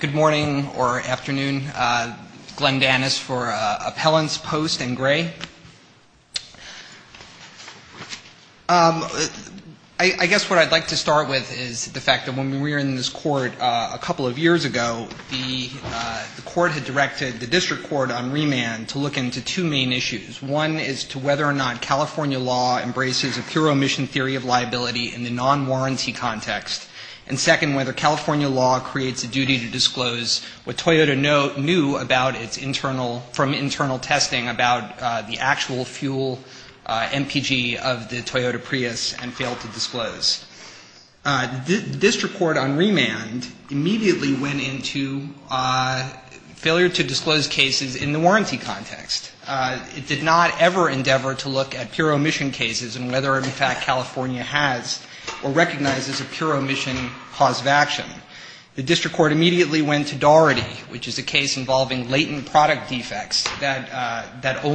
Good morning or afternoon. Glenn Dannis for Appellants Post and Gray. I guess what I'd like to start with is the fact that when we were in this court a couple of years ago, the court had directed the district court on remand to look into two main issues. One is to whether or not California law embraces a pure omission theory of liability in the non-warranty context. And second, whether California law creates a duty to disclose what Toyota knew from internal testing about the actual fuel MPG of the Toyota Prius and failed to disclose. The district court on remand immediately went into failure to disclose cases in the warranty context. It did not ever endeavor to look at pure omission cases and whether, in fact, California has or recognizes a pure omission cause of action. The district court immediately looked into whether California law has a duty to disclose what Toyota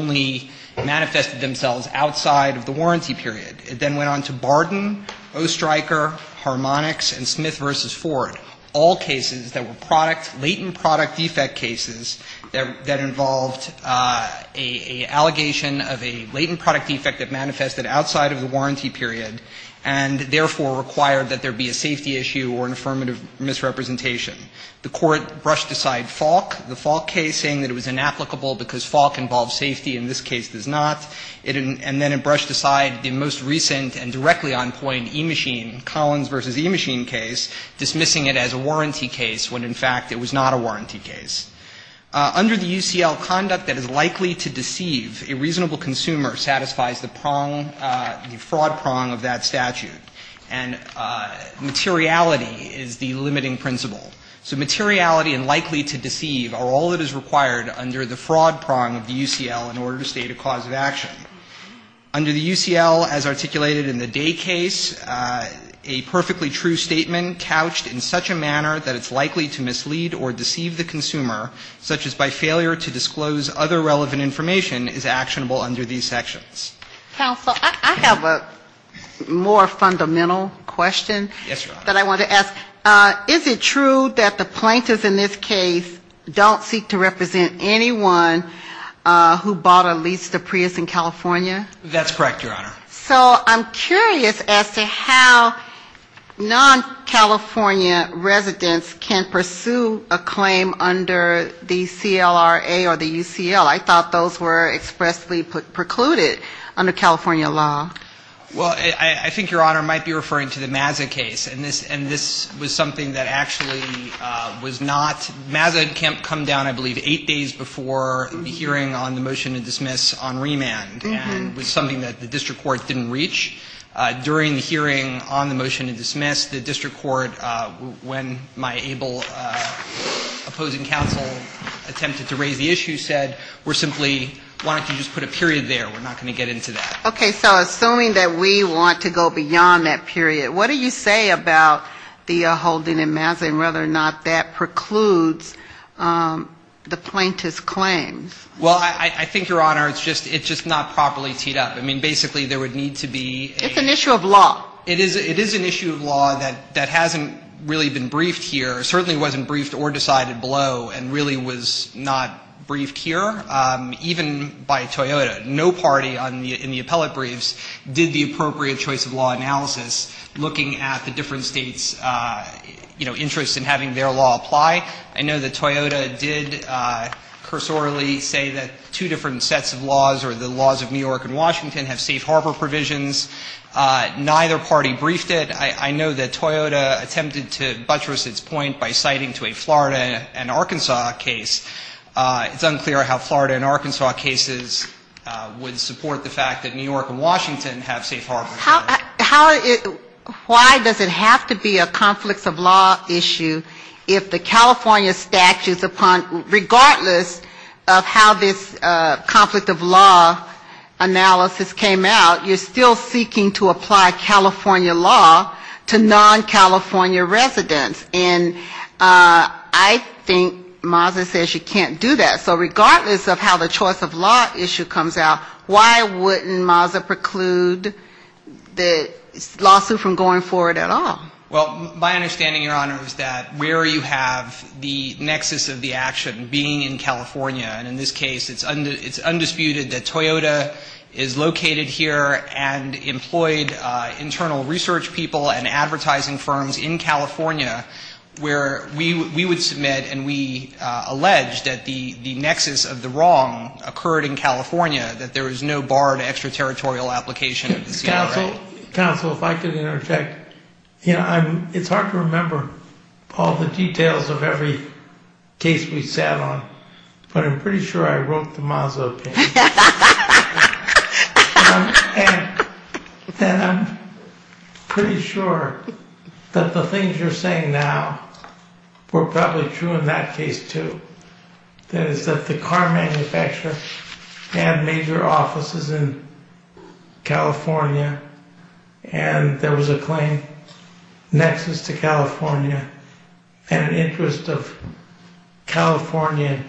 knew from internal testing about the actual fuel MPG of the Toyota Prius and failed to disclose. The district court immediately went to Daugherty, which is a case involving latent product defects that only manifested themselves outside of the warranty period. It then went on to Barden, O-Striker, Harmonix and Smith v. Ford, all cases that were product latent product defect cases that involved an allegation of a latent product defect that manifested outside of the warranty period and therefore required that there be a safety issue or an affirmative case. The district court brushed aside Falk, the Falk case, saying that it was inapplicable because Falk involves safety and this case does not. And then it brushed aside the most recent and directly on point E-Machine, Collins v. E-Machine case, dismissing it as a warranty case when, in fact, it was not a warranty case. Under the UCL conduct that is likely to deceive, a reasonable consumer satisfies the prong, the fraud prong of that statute. And materiality is the limiting principle. So materiality and likely to deceive are all that is required under the fraud prong of the UCL in order to state a cause of action. Under the UCL, as articulated in the Day case, a perfectly true statement couched in such a manner that it's likely to mislead or deceive the consumer, such as by failure to disclose other relevant information, is actionable under these sections. Counsel, I have a more fundamental question that I want to ask. Is it true that the plaintiffs in this case don't seek to represent anyone who bought a lease to Prius in California? That's correct, Your Honor. So I'm curious as to how non-California residents can pursue a claim under the CLRA or the UCL. I thought those were expressly precluded under California law. Well, I think, Your Honor, I might be referring to the Mazza case. And this was something that actually was not. Mazza had come down, I believe, eight days before the hearing on the motion to dismiss on remand and was something that the district court didn't reach. During the hearing on the motion to dismiss, the district court, when my able opposing counsel attempted to raise the issue, said, we're simply, why don't you just put a period there? We're not going to get into that. Okay. So assuming that we want to go beyond that period, what do you say about the holding in Mazza and whether or not that precludes the plaintiff's claims? Well, I think, Your Honor, it's just not properly teed up. I mean, basically, there would need to be a... It's an issue of law. It is an issue of law that hasn't really been briefed here, certainly wasn't briefed or decided below, and really was not briefed here, even by Toyota. No party in the appellate briefs did the appropriate choice of law analysis looking at the different states' interest in having their law apply. I know that Toyota did cursorily say that two different sets of laws or the laws of New York and Washington have safe harbor provisions. Neither party briefed it. I know that Toyota attempted to buttress its point by citing to a Florida and Arkansas case. It's unclear how Florida and Arkansas cases would support the fact that New York and Washington have safe harbor provisions. Why does it have to be a conflicts of law issue if the California statutes upon, regardless of how this conflict of law analysis came out, you're still seeking to apply California law to the California statute? Why does it have to be a conflicts of law issue if the California statute upon, regardless of how this conflict of law analysis came out, you're still seeking to apply California law to non-California residents? And I think Mazza says you can't do that. So regardless of how the choice of law issue comes out, why wouldn't Mazza preclude the lawsuit from going forward at all? Well, my understanding, Your Honor, is that where you have the nexus of the action being in California, and in this case, it's undisputed that Toyota is located here and employed internal research people, as well as the California statute. And so we have a very, very broad network of lawyers and advertising firms in California where we would submit and we allege that the nexus of the wrong occurred in California, that there was no barred extraterritorial application of the CRL. Counsel, if I could interject, it's hard to remember all the details of every case we sat on, but I'm pretty sure I wrote the Mazza opinion. And I'm pretty sure that Mazza is the one who wrote the Mazza opinion. And I'm pretty sure that the things you're saying now were probably true in that case, too. That is that the car manufacturer had major offices in California, and there was a claim nexus to California, and an interest of California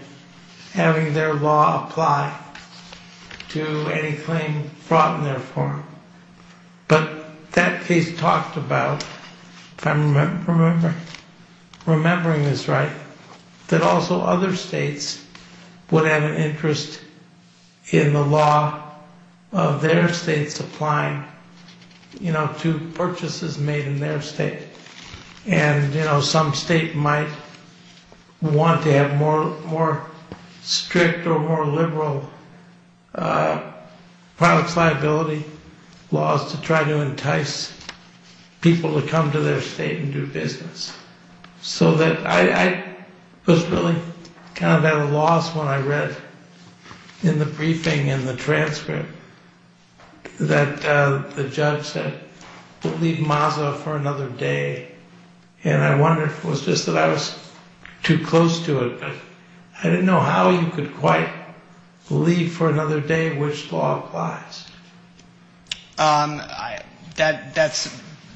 having their law apply to any claim brought in their forum. But that case talked about, if I'm remembering this right, that also other states would have an interest in the law of their state supplying, you know, to purchases made in their state. And, you know, some state might want to have more strict or more liberal pilot's liability. But I think that Mazza is one of those laws to try to entice people to come to their state and do business. So that I was really kind of at a loss when I read in the briefing, in the transcript, that the judge said, leave Mazza for another day, and I wonder if it was just that I was too close to it, but I didn't know how you could quite leave for another day which law applies. That's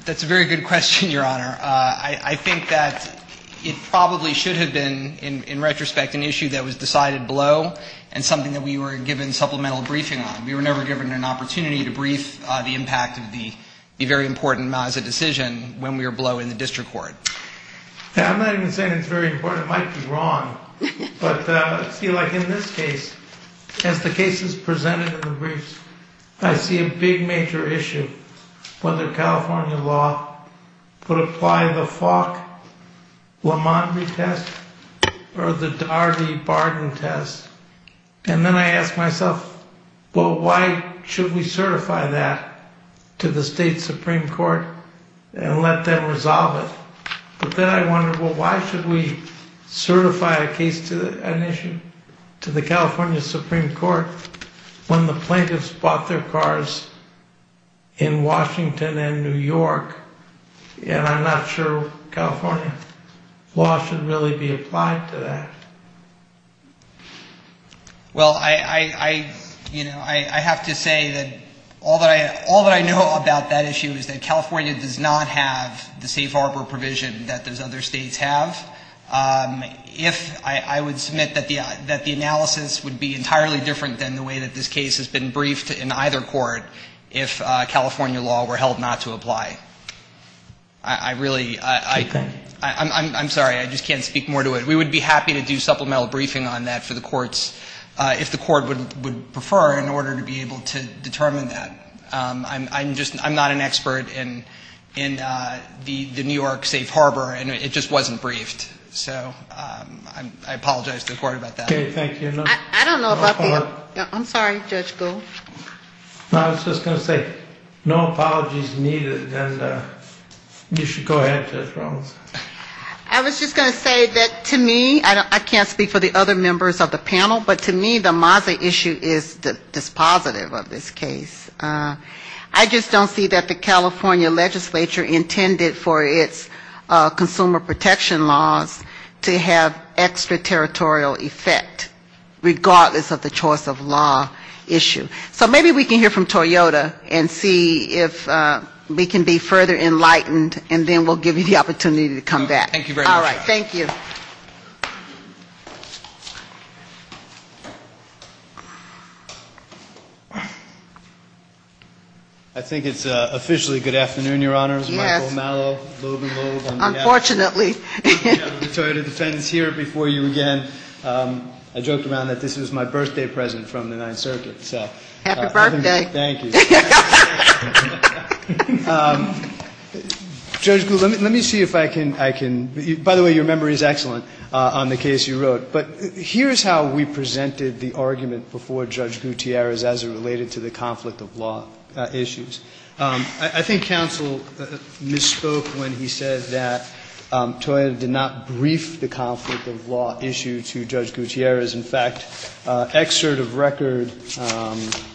a very good question, Your Honor. I think that it probably should have been, in retrospect, an issue that was decided below, and something that we were given supplemental briefing on. We were never given an opportunity to brief the impact of the very important Mazza decision when we were below in the district court. I'm not even saying it's very important. It might be wrong. But, see, like in this case, as the case is presented in the briefs, I see a big major issue, whether California law would apply the Falk-Lamondry test or the Darby-Barden test. And then I ask myself, well, why should we certify that to the state Supreme Court and let them resolve it? But then I wonder, well, why should we certify a case to an issue, to the California Supreme Court, when the plaintiffs bought their cars in Washington and New York, and I'm not sure California law should really be applied to that? Well, I have to say that all that I know about that issue is that California does not have the safe harbor provision. That does other states have. If, I would submit that the analysis would be entirely different than the way that this case has been briefed in either court, if California law were held not to apply. I really, I'm sorry, I just can't speak more to it. We would be happy to do supplemental briefing on that for the courts, if the court would prefer, in order to be able to determine that. I'm just, I'm not an expert in the New York safe harbor, and it just wasn't briefed. So I apologize to the court about that. I don't know about the, I'm sorry, Judge Gould. I was just going to say, no apologies needed, and you should go ahead, Judge Rollins. I was just going to say that to me, I can't speak for the other members of the panel, but to me, the Maza issue is dispositive of this case. I just don't see that the California legislature intended for its consumer protection laws to have extraterritorial effect, regardless of the choice of law issue. So maybe we can hear from Toyota and see if we can be further enlightened, and then we'll give you the opportunity to come back. Thank you very much. I think it's officially good afternoon, Your Honors. Michael Malo, lobe and lobe on behalf of the Toyota defense here before you again. I joked around that this is my birthday present from the Ninth Circuit, so. Happy birthday. Thank you. Judge Gould, let me see if I can, by the way, your memory is excellent on the case you wrote, but here's how we presented the argument before Judge Gutierrez as it related to the conflict of law. I think counsel misspoke when he said that Toyota did not brief the conflict of law issue to Judge Gutierrez. In fact, excerpt of record, it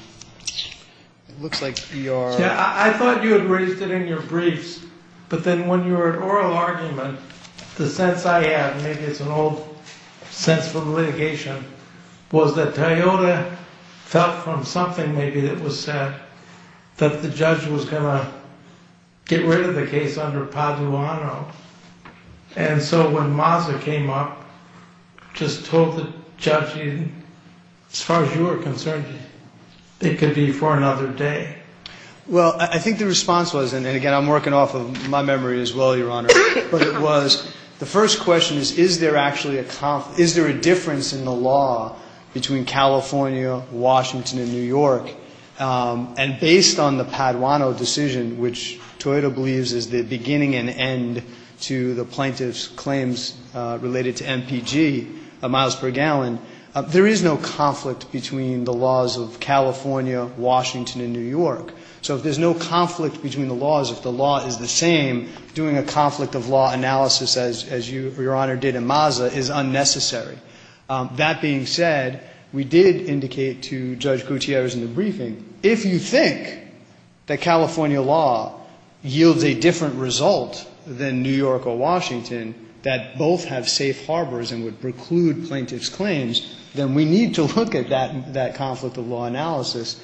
looks like your... I thought you had raised it in your briefs, but then when you're at oral argument, the sense I have, and maybe it's an old sense for litigation, was that Toyota felt from something maybe that was said, that the judge was going to get rid of the case under Paduano. And so when Mazza came up, just told the judge, as far as you were concerned, it could be for another day. Well, I think the response was, and again, I'm working off of my memory as well, Your Honor, but it was, the first question is, is there actually a... And based on the Paduano decision, which Toyota believes is the beginning and end to the plaintiff's claims related to MPG, miles per gallon, there is no conflict between the laws of California, Washington, and New York. So if there's no conflict between the laws, if the law is the same, doing a conflict of law analysis, as Your Honor did in Mazza, is unnecessary. That being said, we did indicate to Judge Gutierrez in the briefing, if you think that California law yields a different result than New York or Washington, that both have safe harbors and would preclude plaintiff's claims, then we need to look at that conflict of law analysis.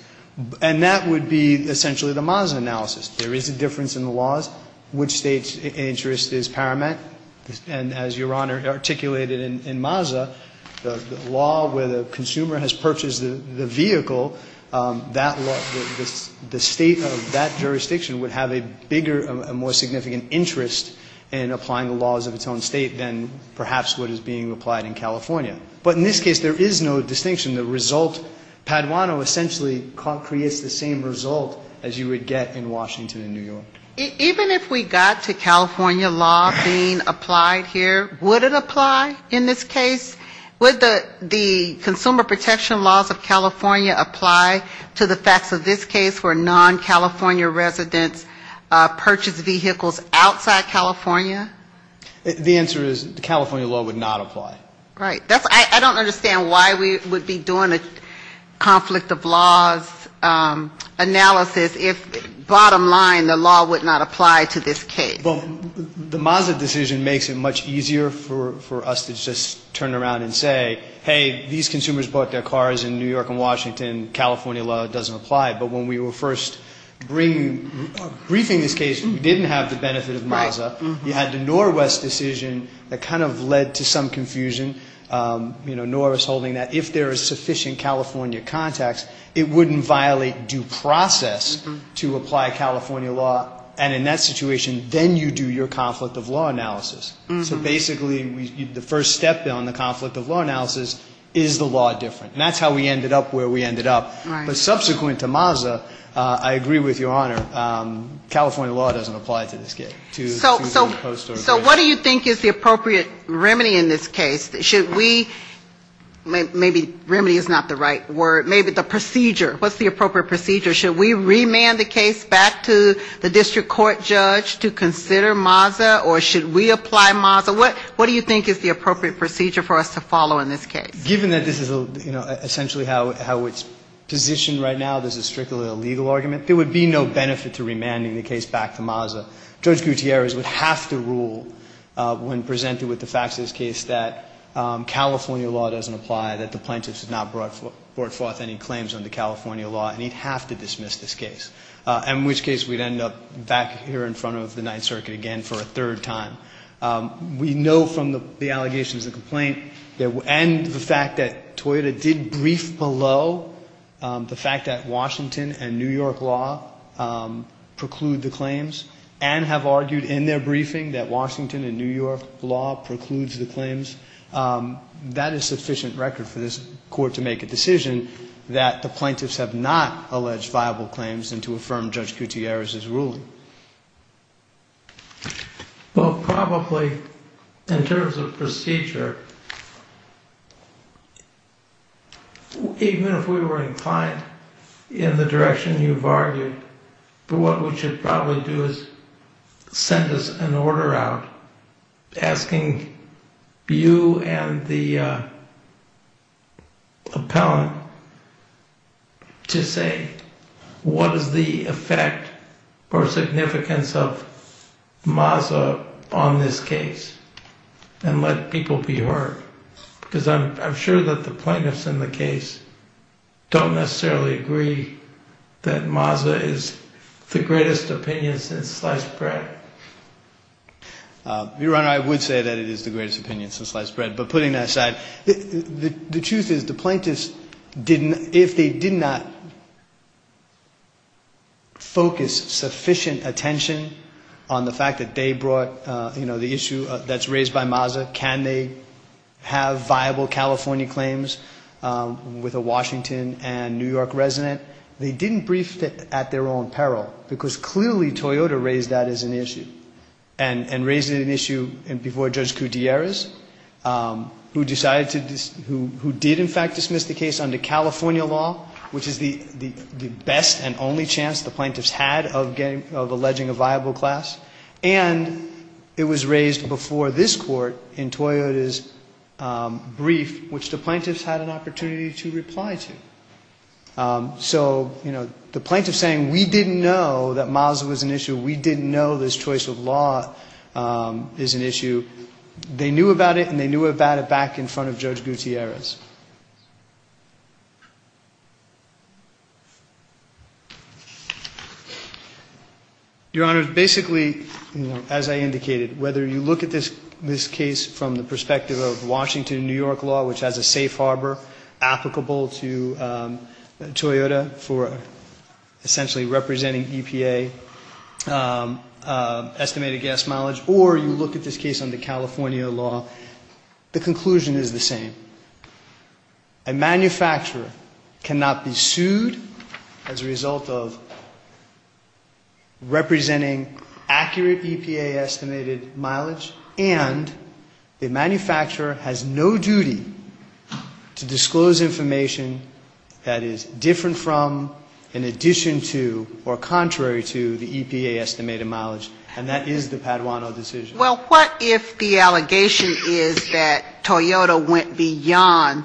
And that would be essentially the Mazza analysis. There is a difference in the laws, which state's interest is paramount, and as Your Honor articulated in Mazza, the law where the consumer has purchased the vehicle, that law, the state of that jurisdiction would have a bigger, a more significant interest in applying the laws of its own state than perhaps what is being applied in California. But in this case, there is no distinction. The result, Paduano essentially creates the same result as you would get in Washington and New York. Even if we got to California law being applied here, would it apply in this case? Would the consumer protection laws of California apply to the facts of this case where non-California residents purchased vehicles outside California? The answer is California law would not apply. If you're doing a conflict of laws analysis, bottom line, the law would not apply to this case. The Mazza decision makes it much easier for us to just turn around and say, hey, these consumers bought their cars in New York and Washington, California law doesn't apply. But when we were first briefing this case, we didn't have the benefit of Mazza. You had the Norwest decision that kind of led to some confusion, you know, Norwest holding that. If there is sufficient California context, it wouldn't violate due process to apply California law, and in that situation, then you do your conflict of law analysis. So basically, the first step on the conflict of law analysis is the law different. And that's how we ended up where we ended up. But subsequent to Mazza, I agree with Your Honor, California law doesn't apply to this case. So what do you think is the appropriate remedy in this case? Maybe remedy is not the right word. Maybe the procedure. What's the appropriate procedure? Should we remand the case back to the district court judge to consider Mazza? Or should we apply Mazza? What do you think is the appropriate procedure for us to follow in this case? Given that this is essentially how it's positioned right now, this is strictly a legal argument, there would be no benefit to remanding the case back to Mazza. Judge Gutierrez would have to rule when presented with the facts of this case that California law doesn't apply, that the plaintiffs have not brought forth any claims under California law, and he'd have to dismiss this case. And in which case, we'd end up back here in front of the Ninth Circuit again for a third time. We know from the allegations, the complaint, and the fact that Toyota did brief below the fact that Washington and New York law preclude the claims. And have argued in their briefing that Washington and New York law precludes the claims. That is sufficient record for this court to make a decision that the plaintiffs have not alleged viable claims and to affirm Judge Gutierrez's ruling. Well, probably, in terms of procedure, even if we were inclined in the direction you've argued, what we should probably do is send us an order out asking you and the appellant to say, what is the effect or significance of Mazza on this case? And let people be heard. Because I'm sure that the plaintiffs in the case don't necessarily agree that Mazza is the greatest opinion since sliced bread. Your Honor, I would say that it is the greatest opinion since sliced bread, but putting that aside, the truth is the plaintiffs, if they did not focus sufficient attention on the fact that they brought the issue that's raised by Mazza, can they have viable California claims with a Washington and New York resident, they didn't brief at their own peril, because clearly Toyota raised that as an issue. And raised it an issue before Judge Gutierrez, who decided to, who did in fact dismiss the case under California law, which is the best and only chance the plaintiffs had of alleging a viable class. And it was raised before this court in Toyota's brief, which the plaintiffs had an opportunity to reply to. So, you know, the plaintiffs saying we didn't know that Mazza was an issue, we didn't know this choice of law is an issue, they knew about it and they knew about it back in front of Judge Gutierrez. Your Honor, basically, as I indicated, whether you look at this case from the perspective of Washington and New York law, which has a safe harbor applicable to Toyota for essentially representing EPA, estimated gas mileage, or you look at this case under California law, the conclusion is the same. A manufacturer cannot be sued as a result of representing accurate EPA estimated mileage, and the manufacturer has no duty to disclose information that is different from, in addition to, or contrary to the EPA estimated mileage, and that is the Paduano decision. Well, what if the allegation is that Toyota went beyond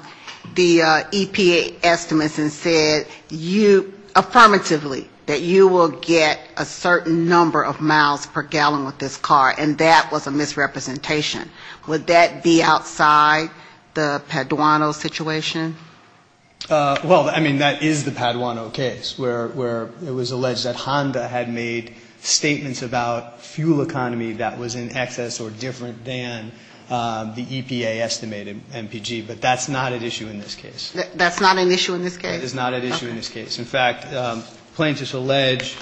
the EPA estimates and said you, affirmatively, that you will get a certain number of miles per gallon with this car, and that was a misrepresentation. Would that be outside the Paduano situation? Well, I mean, that is the Paduano case, where it was alleged that Honda had made statements about fuel economy that was an excess or different than the EPA estimated MPG, but that's not at issue in this case. That's not an issue in this case? That is not at issue in this case. In fact, plaintiffs allege,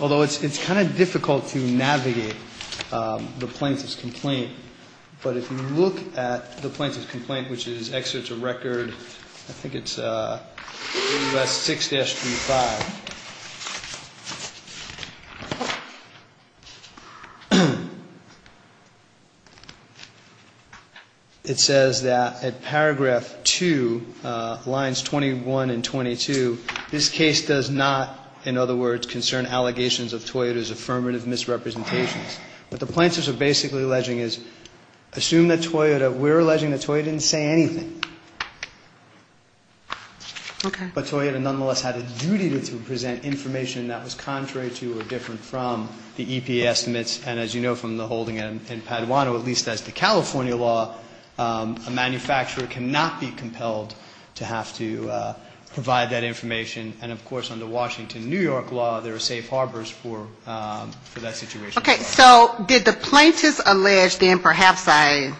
although it's kind of difficult to navigate the plaintiff's complaint, but if you look at the plaintiff's complaint, which is Excerpt to Record, I think it's U.S. 6-35, it says that at Paragraph 2, Lines 21 and 22, this case does not, in other words, concern allegations of Toyota's affirmative misrepresentations. But the plaintiffs are basically alleging is, assume that Toyota, we're alleging that Toyota didn't say anything, but Toyota nonetheless had a duty to present information that was contrary to or different from the EPA estimates, and as you know from the holding in Paduano, at least as to California law, a manufacturer cannot be compelled to have to provide that information, and of course, under Washington, New York law, there are safe harbors for that situation. Okay. So did the plaintiffs allege, then perhaps I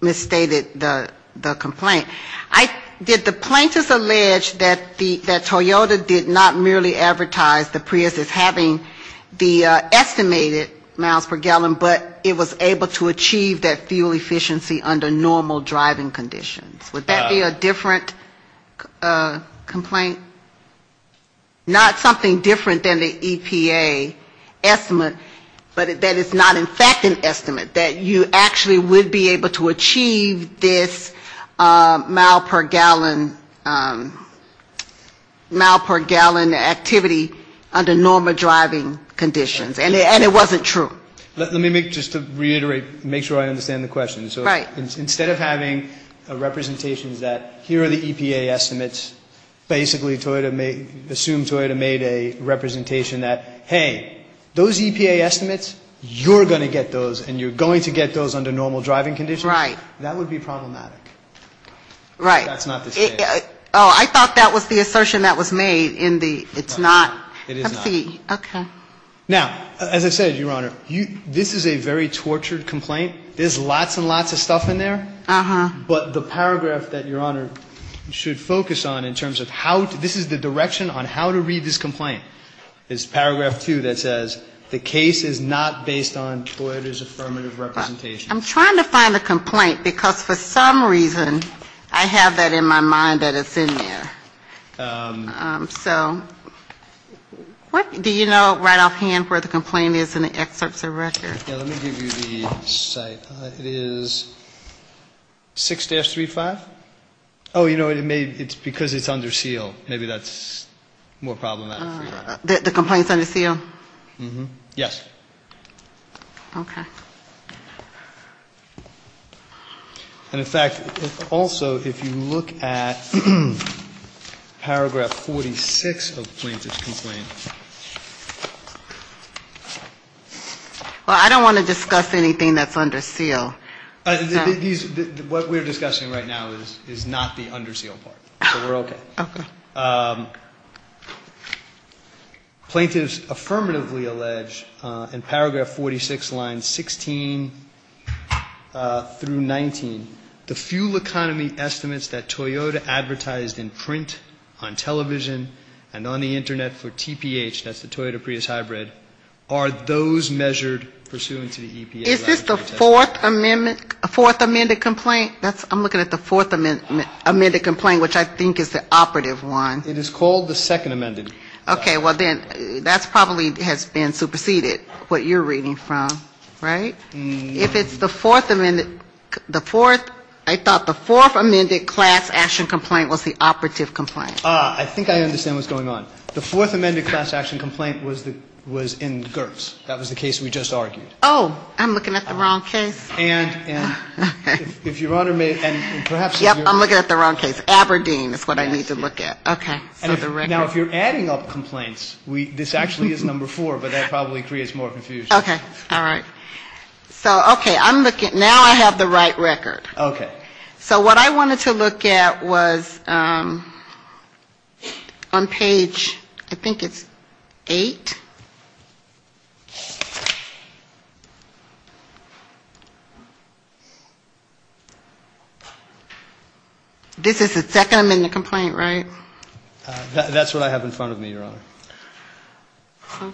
misstated the complaint, did the plaintiffs allege that Toyota did not merely advertise the Prius as having the estimated miles per gallon, but it was able to achieve that fuel efficiency under normal driving conditions? Would that be a different complaint? Not something different than the EPA estimate, but that it's not in fact an estimate, that you actually would be able to achieve this mile per gallon, mile per gallon activity under normal driving conditions, and it wasn't true. Let me make, just to reiterate, make sure I understand the question. So instead of having representations that here are the EPA estimates, basically Toyota, assume Toyota made a representation that, hey, those EPA estimates, you're going to get those, and you're going to get those under normal driving conditions? Right. That would be problematic. Right. Oh, I thought that was the assertion that was made in the, it's not. It is not. Okay. Now, as I said, Your Honor, this is a very tortured complaint. There's lots and lots of stuff in there, but the paragraph that Your Honor should focus on in terms of how, this is the direction on how to read this complaint, is paragraph two that says, the case is not based on a complaint, because for some reason, I have that in my mind that it's in there. So what, do you know right offhand where the complaint is in the excerpts of record? Yeah, let me give you the site. It is 6-35. Oh, you know, it may, it's because it's under seal. Maybe that's more problematic for you. The complaint's under seal? Yes. Okay. And, in fact, also, if you look at paragraph 46 of the plaintiff's complaint. Well, I don't want to discuss anything that's under seal. What we're discussing right now is not the under seal part, so we're okay. Okay. Plaintiffs affirmatively allege in paragraph 46, lines 16 through 19, the fuel economy estimates that Toyota advertised in print, on television, and on the Internet for TPH, that's the Toyota Prius hybrid, are those measured pursuant to the EPA. Is this the Fourth Amendment, Fourth Amendment complaint? I'm looking at the Fourth Amendment complaint, which I think is the opposite. It's the operative one. It is called the Second Amendment. Okay. Well, then, that's probably has been superseded, what you're reading from, right? If it's the Fourth Amendment, the Fourth, I thought the Fourth Amendment class action complaint was the operative complaint. I think I understand what's going on. The Fourth Amendment class action complaint was in Gertz. That was the case we just argued. Oh, I'm looking at the wrong case. And if Your Honor may, and perhaps if you're... Yep, I'm looking at the wrong case. Aberdeen is what I need to look at. Okay. Now, if you're adding up complaints, this actually is number four, but that probably creates more confusion. Okay. All right. So, okay, I'm looking, now I have the right record. Okay. So what I wanted to look at was on page, I think it's eight. This is the Second Amendment complaint, right? That's what I have in front of me, Your Honor.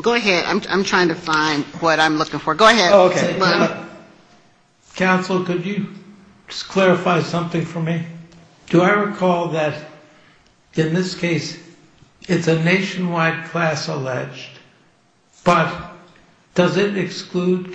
Go ahead. I'm trying to find what I'm looking for. Go ahead. Oh, okay. Counsel, could you just clarify something for me? Do I recall that in this case, it's a nationwide class alleged, but does it exclude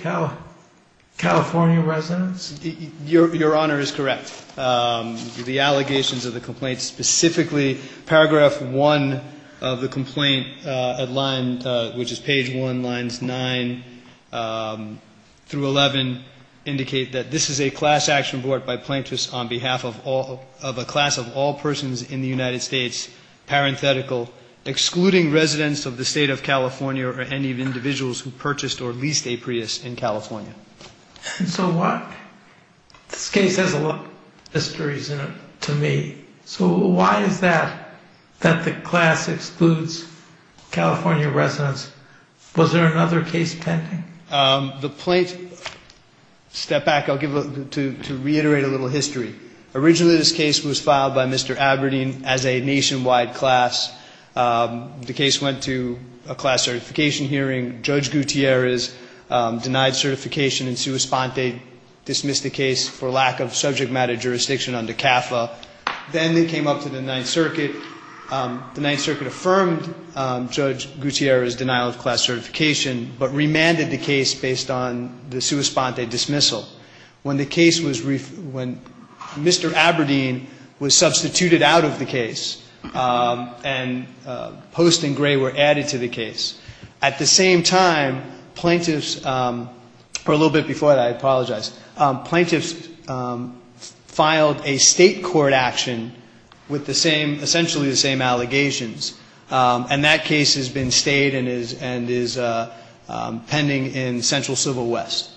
California residents? Your Honor is correct. The allegations of the complaint specifically, paragraph one of paragraph two, one of the complaint at line, which is page one, lines nine through 11, indicate that this is a class action brought by plaintiffs on behalf of a class of all persons in the United States, parenthetical, excluding residents of the state of California or any of individuals who purchased or leased a Prius in California. So what, this case has a lot of histories in it to me. So why is that, that the class excludes California residents? Was there another case pending? The plaintiff, step back, I'll give, to reiterate a little history. Originally, this case was filed by Mr. Aberdeen as a nationwide class. The case went to a class certification hearing. Judge Gutierrez denied certification in sua sponte, dismissed the case for lack of subject matter jurisdiction under CAFA. Then it came up to the Ninth Circuit. The Ninth Circuit affirmed Judge Gutierrez's denial of class certification, but remanded the case based on the sua sponte dismissal. When the case was, when Mr. Aberdeen was substituted out of the case, and Post and Gray were added to the case, at the same time, plaintiffs, or a little bit before that, I apologize, plaintiffs filed a state court action with the same, essentially the same allegations, and that case has been stayed and is pending in Central Civil West.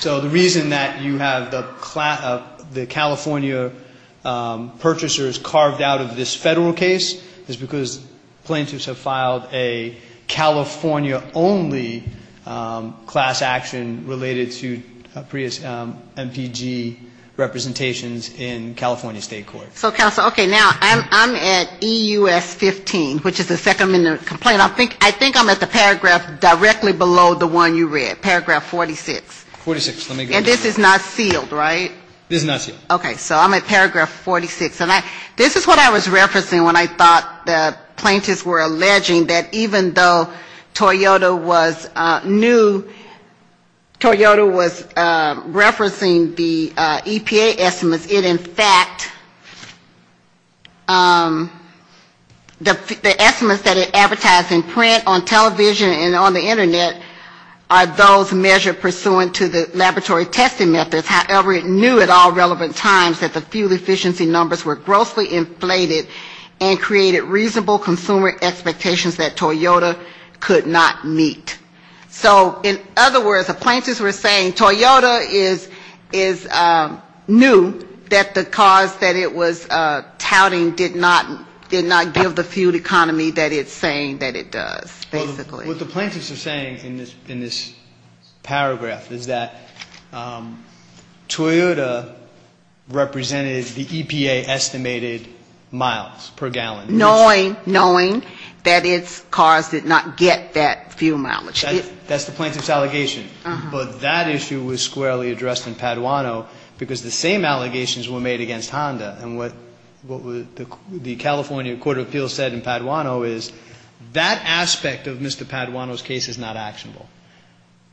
So the reason that you have the California purchasers carved out of this federal case is because plaintiffs have filed a California class action related to MPG representations in California state court. So counsel, okay, now I'm at EUS 15, which is the second minute complaint. I think I'm at the paragraph directly below the one you read, paragraph 46. And this is not sealed, right? This is not sealed. Okay. So I'm at paragraph 46. And I, this is what I was referencing when I thought the plaintiffs were alleging that even though Toyota was new, Toyota was referencing the EPA estimates, it in fact, the estimates that are advertised in print on television and on the Internet are those that were measured pursuant to the laboratory testing methods, however, it knew at all relevant times that the fuel efficiency numbers were grossly inflated and created reasonable consumer expectations that Toyota could not meet. So in other words, the plaintiffs were saying Toyota is new, that the cause that it was touting did not give the fuel economy that it does, basically. What the plaintiffs are saying in this paragraph is that Toyota represented the EPA estimated miles per gallon. Knowing, knowing that its cars did not get that fuel mileage. That's the plaintiff's allegation. But that issue was squarely addressed in Paduano because the same allegations were made against Honda. And what the California Court of Appeals said in Paduano is that aspect of Mr. Paduano's case is not actionable.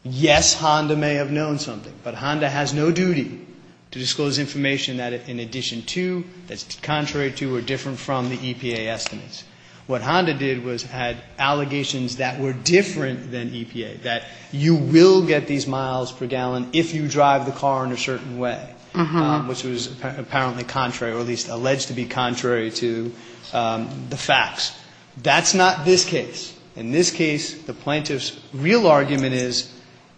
Yes, Honda may have known something, but Honda has no duty to disclose information that in addition to, that's contrary to or different from the EPA estimates. What Honda did was had allegations that were different than EPA, that you will get these miles per gallon if you drive the car in a way, or at least alleged to be contrary to the facts. That's not this case. In this case, the plaintiff's real argument is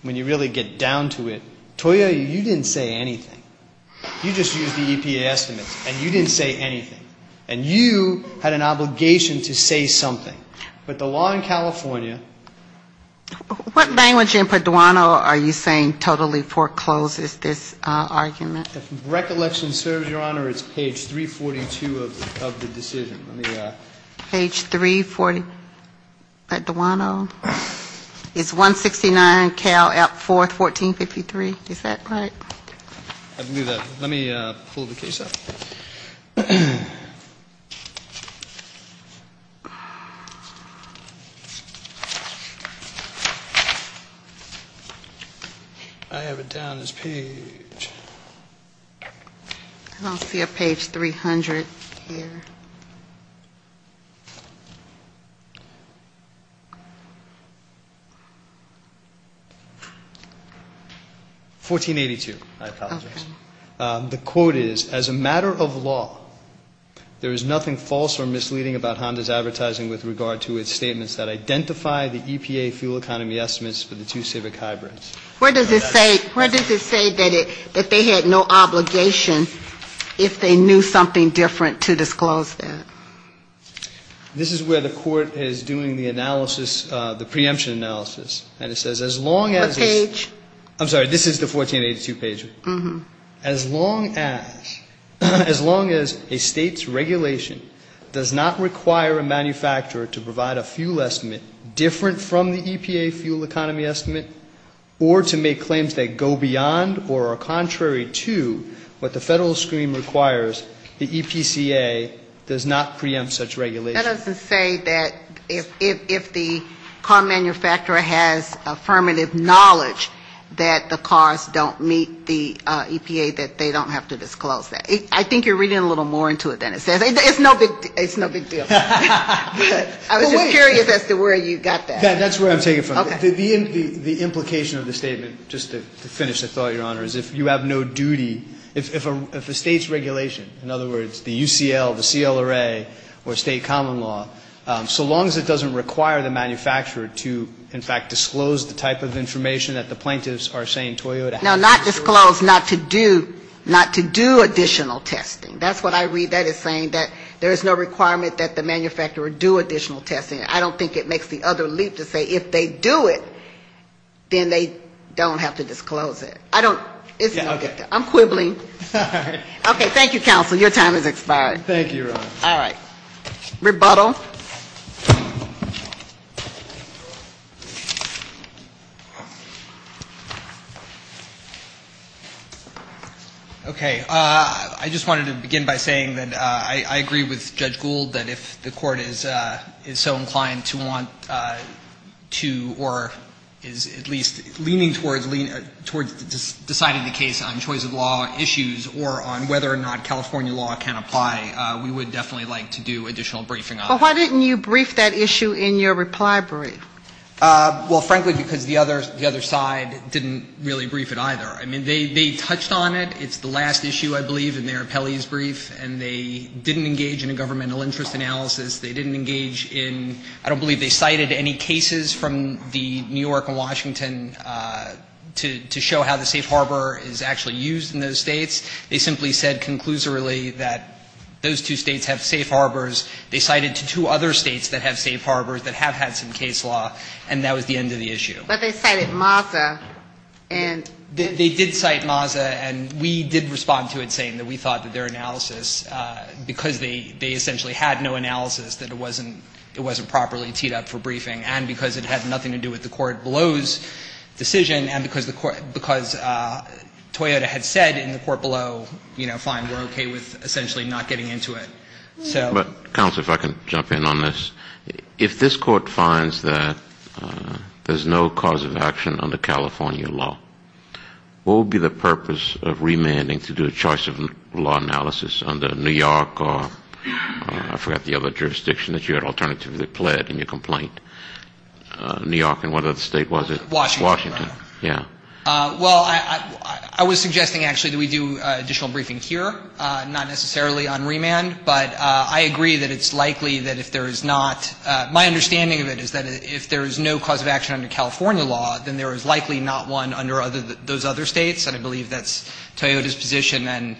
when you really get down to it, Toyota, you didn't say anything. You just used the EPA estimates, and you didn't say anything. And you had an obligation to say something. But the law in California... Page 342 of the decision. Page 340, Paduano. It's 169 Cal 1453. Is that right? I believe that. Let me pull the case up. I have it down as page... I don't see a page 300 here. 1482, I apologize. There is nothing false or misleading about Honda's advertising with regard to its statements that identify the EPA fuel economy estimates for the two civic hybrids. Where does it say that they had no obligation if they knew something different to disclose that? This is where the court is doing the analysis, the preemption analysis. And it says as long as... What page? I'm sorry, this is the 1482 page. As long as a State's regulation does not require a manufacturer to provide a fuel estimate different from the EPA fuel economy estimate, or to make claims that go beyond or are contrary to what the Federal screen requires, the EPCA does not preempt such regulation. That doesn't say that if the car manufacturer has affirmative knowledge of the EPA fuel economy estimates, they have no obligation to disclose them. That the cars don't meet the EPA, that they don't have to disclose that. I think you're reading a little more into it than it says. It's no big deal. I was just curious as to where you got that. The implication of the statement, just to finish the thought, Your Honor, is if you have no duty, if a State's regulation, in other words, the UCL, the CLRA, or State common law, so long as it doesn't require the manufacturer to, in fact, disclose the type of information that the plaintiff has, it's not an obligation. The plaintiffs are saying Toyota has... Now, not disclose, not to do, not to do additional testing. That's what I read. That is saying that there is no requirement that the manufacturer do additional testing. I don't think it makes the other leap to say if they do it, then they don't have to disclose it. I don't, it's no big deal. I'm quibbling. Okay. Thank you, counsel. Your time has expired. Thank you, Your Honor. All right. Rebuttal. Okay. I just wanted to begin by saying that I agree with Judge Gould that if the Court is so inclined to want to, or is at least leaning towards deciding the case on choice of law issues or on whether or not California law can apply, I think it would be a good idea to have a rebuttal. We would definitely like to do additional briefing on that. But why didn't you brief that issue in your reply brief? Well, frankly, because the other side didn't really brief it either. I mean, they touched on it. It's the last issue, I believe, in their appellee's brief, and they didn't engage in a governmental interest analysis. They didn't engage in, I don't believe they cited any cases from the New York and Washington to show how the safe harbor is actually used in those states. They simply said conclusorily that those two states have safe harbors. They cited to two other states that have safe harbors that have had some case law, and that was the end of the issue. But they cited Maza and — They did cite Maza, and we did respond to it, saying that we thought that their analysis, because they essentially had no analysis, that it wasn't properly teed up for briefing, and because it had nothing to do with the court below's decision, and because Toyota had said in the court below's decision that it was a safe harbor. And so we said, well, fine, we're okay with essentially not getting into it. But, counsel, if I can jump in on this. If this court finds that there's no cause of action under California law, what would be the purpose of remanding to do a choice of law analysis under New York or — I forgot the other jurisdiction that you had alternatively pled in your complaint. New York and what other state was it? Washington. Well, I was suggesting actually that we do additional briefing here, not necessarily on remand, but I agree that it's likely that if there is not — my understanding of it is that if there is no cause of action under California law, then there is likely not one under those other states, and I believe that's Toyota's position, and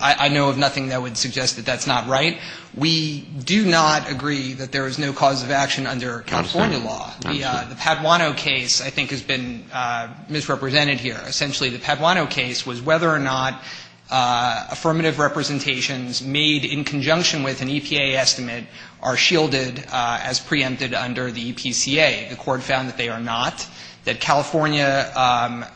I know of nothing that would suggest that that's not right. We do not agree that there is no cause of action under California law. The Paduano case, I think, has been misrepresented here. Essentially, the Paduano case was whether or not affirmative representations made in conjunction with an EPA estimate are shielded as preempted under the EPCA. The court found that they are not, that California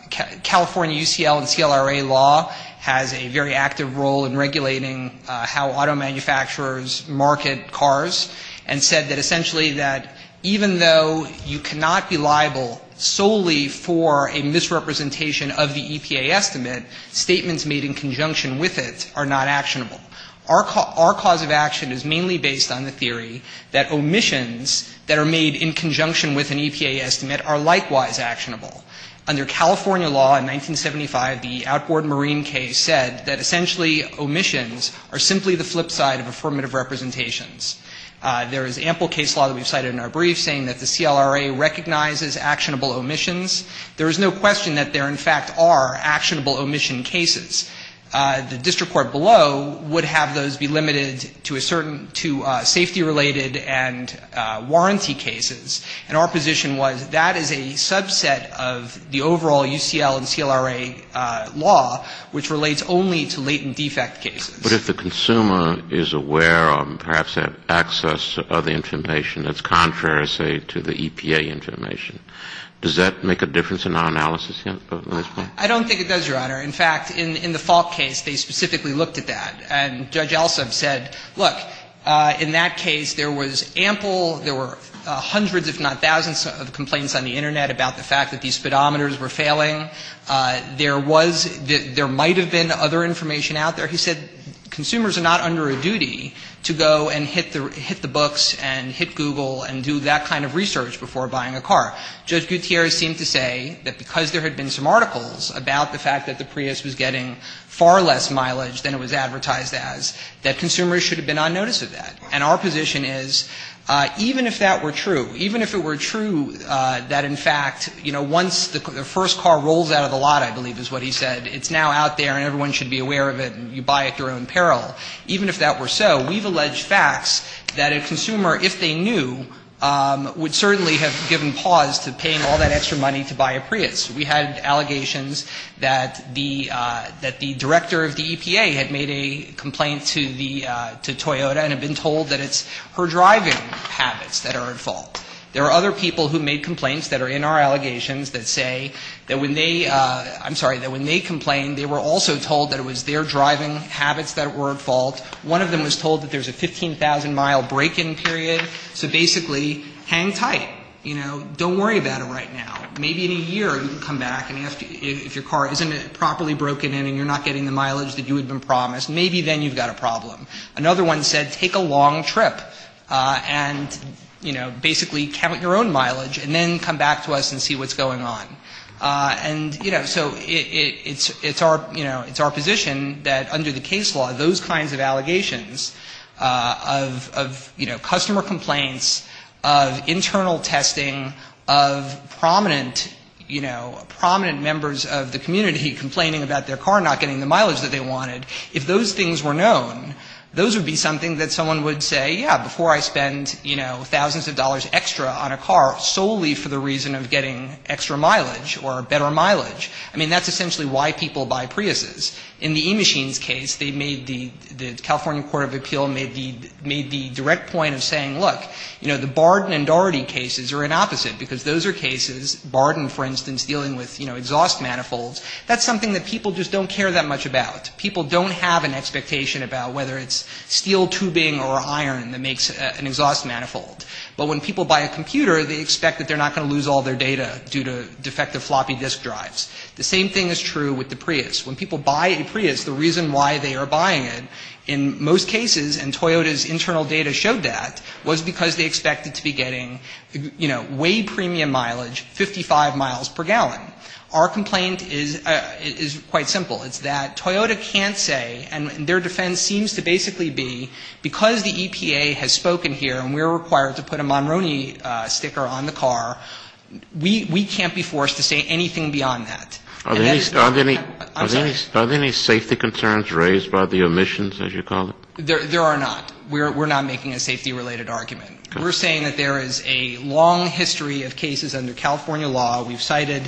— California UCL and CLRA law has a very active role in regulating how auto manufacturers market cars, and said that essentially that even though you can't have an EPA estimate, you can't have an EPA estimate. You cannot be liable solely for a misrepresentation of the EPA estimate. Statements made in conjunction with it are not actionable. Our cause of action is mainly based on the theory that omissions that are made in conjunction with an EPA estimate are likewise actionable. Under California law in 1975, the outboard marine case said that essentially omissions are simply the flip side of affirmative representations. There is ample case law that we've cited in our brief saying that the CLRA recognizes actionable omissions. There is no question that there, in fact, are actionable omission cases. The district court below would have those be limited to a certain — to safety-related and warranty cases, and our position was that is a subset of the overall UCL and CLRA law, which relates only to latent defect cases. But if the consumer is aware or perhaps has access to other information that's contrary, say, to the EPA information, does that make a difference in our analysis at this point? I don't think it does, Your Honor. In fact, in the Falk case, they specifically looked at that. And Judge Alsop said, look, in that case, there was ample — there were hundreds, if not thousands, of complaints on the Internet about the fact that these speedometers were failing. There was — there might have been other information out there. He said consumers are not under a duty to go and hit the books and hit Google and do that kind of research before buying a car. Judge Gutierrez seemed to say that because there had been some articles about the fact that the Prius was getting far less mileage than it was advertised as, that consumers should have been on notice of that. And our position is, even if that were true, even if it were true that, in fact, you know, once the first car rolls out of the lot, I believe is what he said, it's now out there, and everyone should be aware of it, and you buy it, you're in peril, even if that were so, we've alleged facts that a consumer, if they knew, would certainly have given pause to paying all that extra money to buy a Prius. We had allegations that the — that the director of the EPA had made a complaint to the — to Toyota and had been told, you know, that it's her driving habits that are at fault. There are other people who made complaints that are in our allegations that say that when they — I'm sorry, that when they complained, they were also told that it was their driving habits that were at fault. One of them was told that there's a 15,000-mile break-in period, so basically hang tight, you know, don't worry about it right now. Maybe in a year you can come back, and if your car isn't properly broken in and you're not getting the mileage that you had been promised, maybe then you've got a problem. Another one said take a long trip and, you know, basically count your own mileage and then come back to us and see what's going on. And, you know, so it's our — you know, it's our position that under the case law, those kinds of allegations of, you know, customer complaints, of internal testing, of prominent, you know, prominent members of the community complaining about their car not getting the mileage that they wanted, if those things were known, those would be something that someone would say, yeah, before I spend, you know, thousands of dollars extra on a car solely for the reason of getting extra mileage or better mileage. I mean, that's essentially why people buy Priuses. In the eMachines case, they made the — the California Court of Appeal made the — made the direct point of saying, look, you know, the Barden and Daugherty cases are inopposite, because those are cases — Barden, for instance, dealing with, you know, exhaust manifolds — that's something that people just don't care that much about. People don't have an expectation about whether it's steel tubing or iron that makes an exhaust manifold. But when people buy a computer, they expect that they're not going to lose all their data due to defective floppy disk drives. The same thing is true with the Prius. When people buy a Prius, the reason why they are buying it, in most cases, and Toyota's internal data showed that, was because they expected to be getting, you know, way premium mileage, 55 miles per gallon. Our complaint is — is quite simple. It's that Toyota can't say, and their defense seems to basically be, because the EPA has spoken here and we're required to put a Monroney sticker on the car, we can't be forced to say anything beyond that. And that is — I'm sorry. Are there any safety concerns raised by the omissions, as you call it? There are not. We're not making a safety-related argument. We're saying that there is a long history of cases under California law. We've cited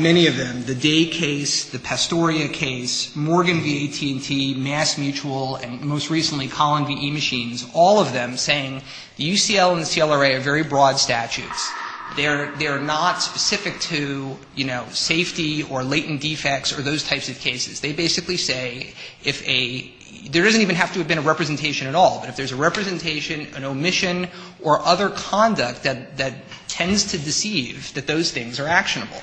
many of them. The Day case, the Pastoria case, Morgan v. AT&T, MassMutual, and most recently, Collin v. E-Machines, all of them saying the UCL and the CLRA are very broad statutes. They're — they're not specific to, you know, safety or latent defects or those types of cases. They basically say if a — there doesn't even have to have been a representation at all, but if there's a representation, an omission, or other conduct that — that tends to deceive, that those things are actionable.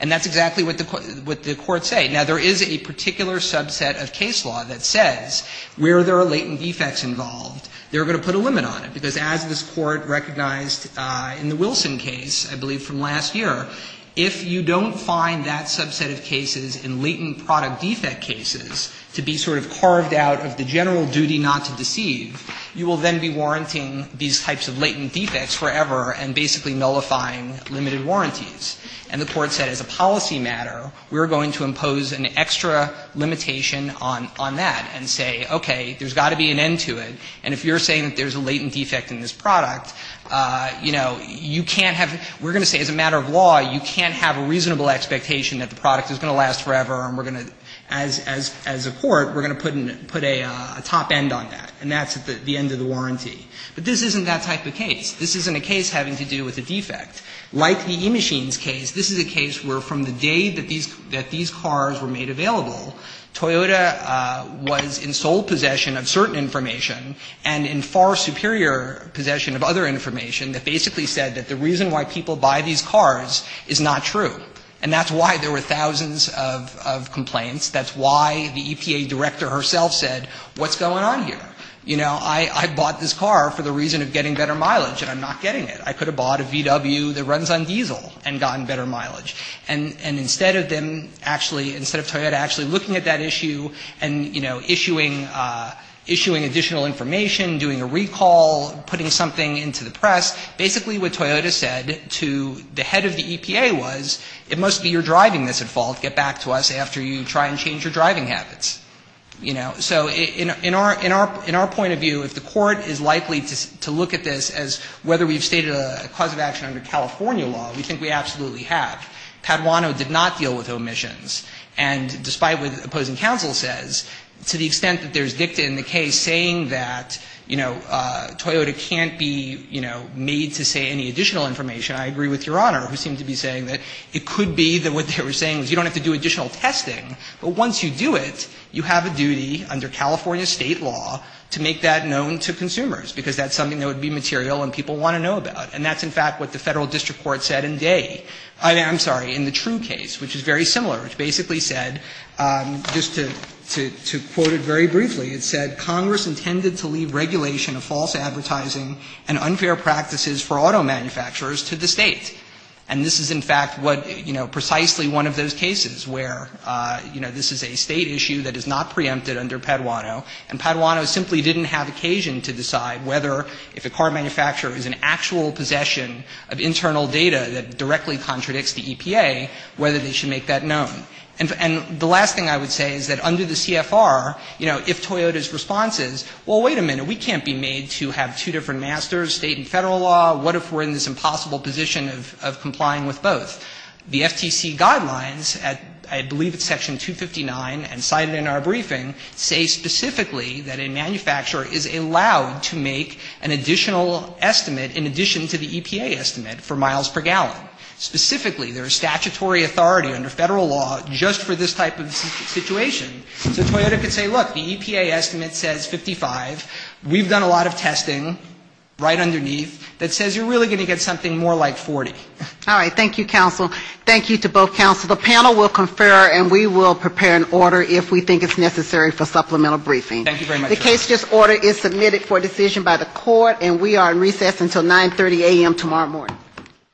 And that's exactly what the — what the Court said. Now, there is a particular subset of case law that says where there are latent defects involved, they're going to put a limit on it, because as this Court recognized in the Wilson case, I believe from last year, if you don't find that subset of cases in latent product defect cases to be sort of carved out of the general duty not to deceive, you will then be warranting these types of latent defects forever and basically nullifying limited warranties. And the Court said as a policy matter, we're going to impose an extra limitation on — on that and say, okay, there's got to be an end to it. And if you're saying that there's a latent defect in this product, you know, you can't have — we're going to say as a matter of law, you can't have a reasonable expectation that the product is going to last forever and we're going to — as — as a Court, we're going to put a top end on that. And that's the end of the warranty. But this isn't that type of case. This isn't a case having to do with a defect. Like the E-Machines case, this is a case where from the day that these — that these cars were made available, Toyota was in sole possession of certain information and in far superior possession of other information that basically said that the reason why people buy these cars is not true. And that's why there were thousands of — of complaints. That's why the EPA director herself said, what's going on here? You know, I — I bought this car for the reason of getting better mileage and I'm not getting it. I could have bought a VW that runs on diesel and gotten better mileage. And — and instead of them actually — instead of Toyota actually looking at that and issuing — issuing additional information, doing a recall, putting something into the press, basically what Toyota said to the head of the EPA was, it must be your driving that's at fault. Get back to us after you try and change your driving habits. You know? So in our — in our — in our point of view, if the Court is likely to look at this as whether we've stated a cause of action under California law, we think we absolutely have. Paduano did not deal with omissions. And despite what the opposing counsel says, to the extent that there's dicta in the case saying that, you know, Toyota can't be, you know, made to say any additional information, I agree with Your Honor, who seemed to be saying that it could be that what they were saying was you don't have to do additional testing. But once you do it, you have a duty under California State law to make that known to consumers, because that's something that would be material and people want to know about. And that's, in fact, what the Federal District Court said in Dey — I'm sorry, in the True case, which is very similar. It basically said, just to — to quote it very briefly, it said, "...Congress intended to leave regulation of false advertising and unfair practices for auto manufacturers to the State." And this is, in fact, what — you know, precisely one of those cases where, you know, this is a State issue that is not preempted under Paduano, and Paduano simply didn't have occasion to decide whether, if a car manufacturer is in actual possession of internal data that directly contradicts the EPA, whether they should make that known. And the last thing I would say is that under the CFR, you know, if Toyota's response is, well, wait a minute, we can't be made to have two different masters, State and Federal law. What if we're in this impossible position of — of complying with both? The FTC guidelines at — I believe it's section 259 and cited in our briefing say specifically that a manufacturer is allowed to make an additional estimate in addition to the EPA estimate for miles per gallon. Specifically, there is statutory authority under Federal law just for this type of situation. So Toyota could say, look, the EPA estimate says 55. We've done a lot of testing right underneath that says you're really going to get something more like 40. All right. Thank you, counsel. Thank you to both counsel. The panel will confer, and we will prepare an order if we think it's necessary for supplemental briefing. Thank you very much. The case just ordered is submitted for decision by the court, and we are in recess until 9.30 a.m. tomorrow morning.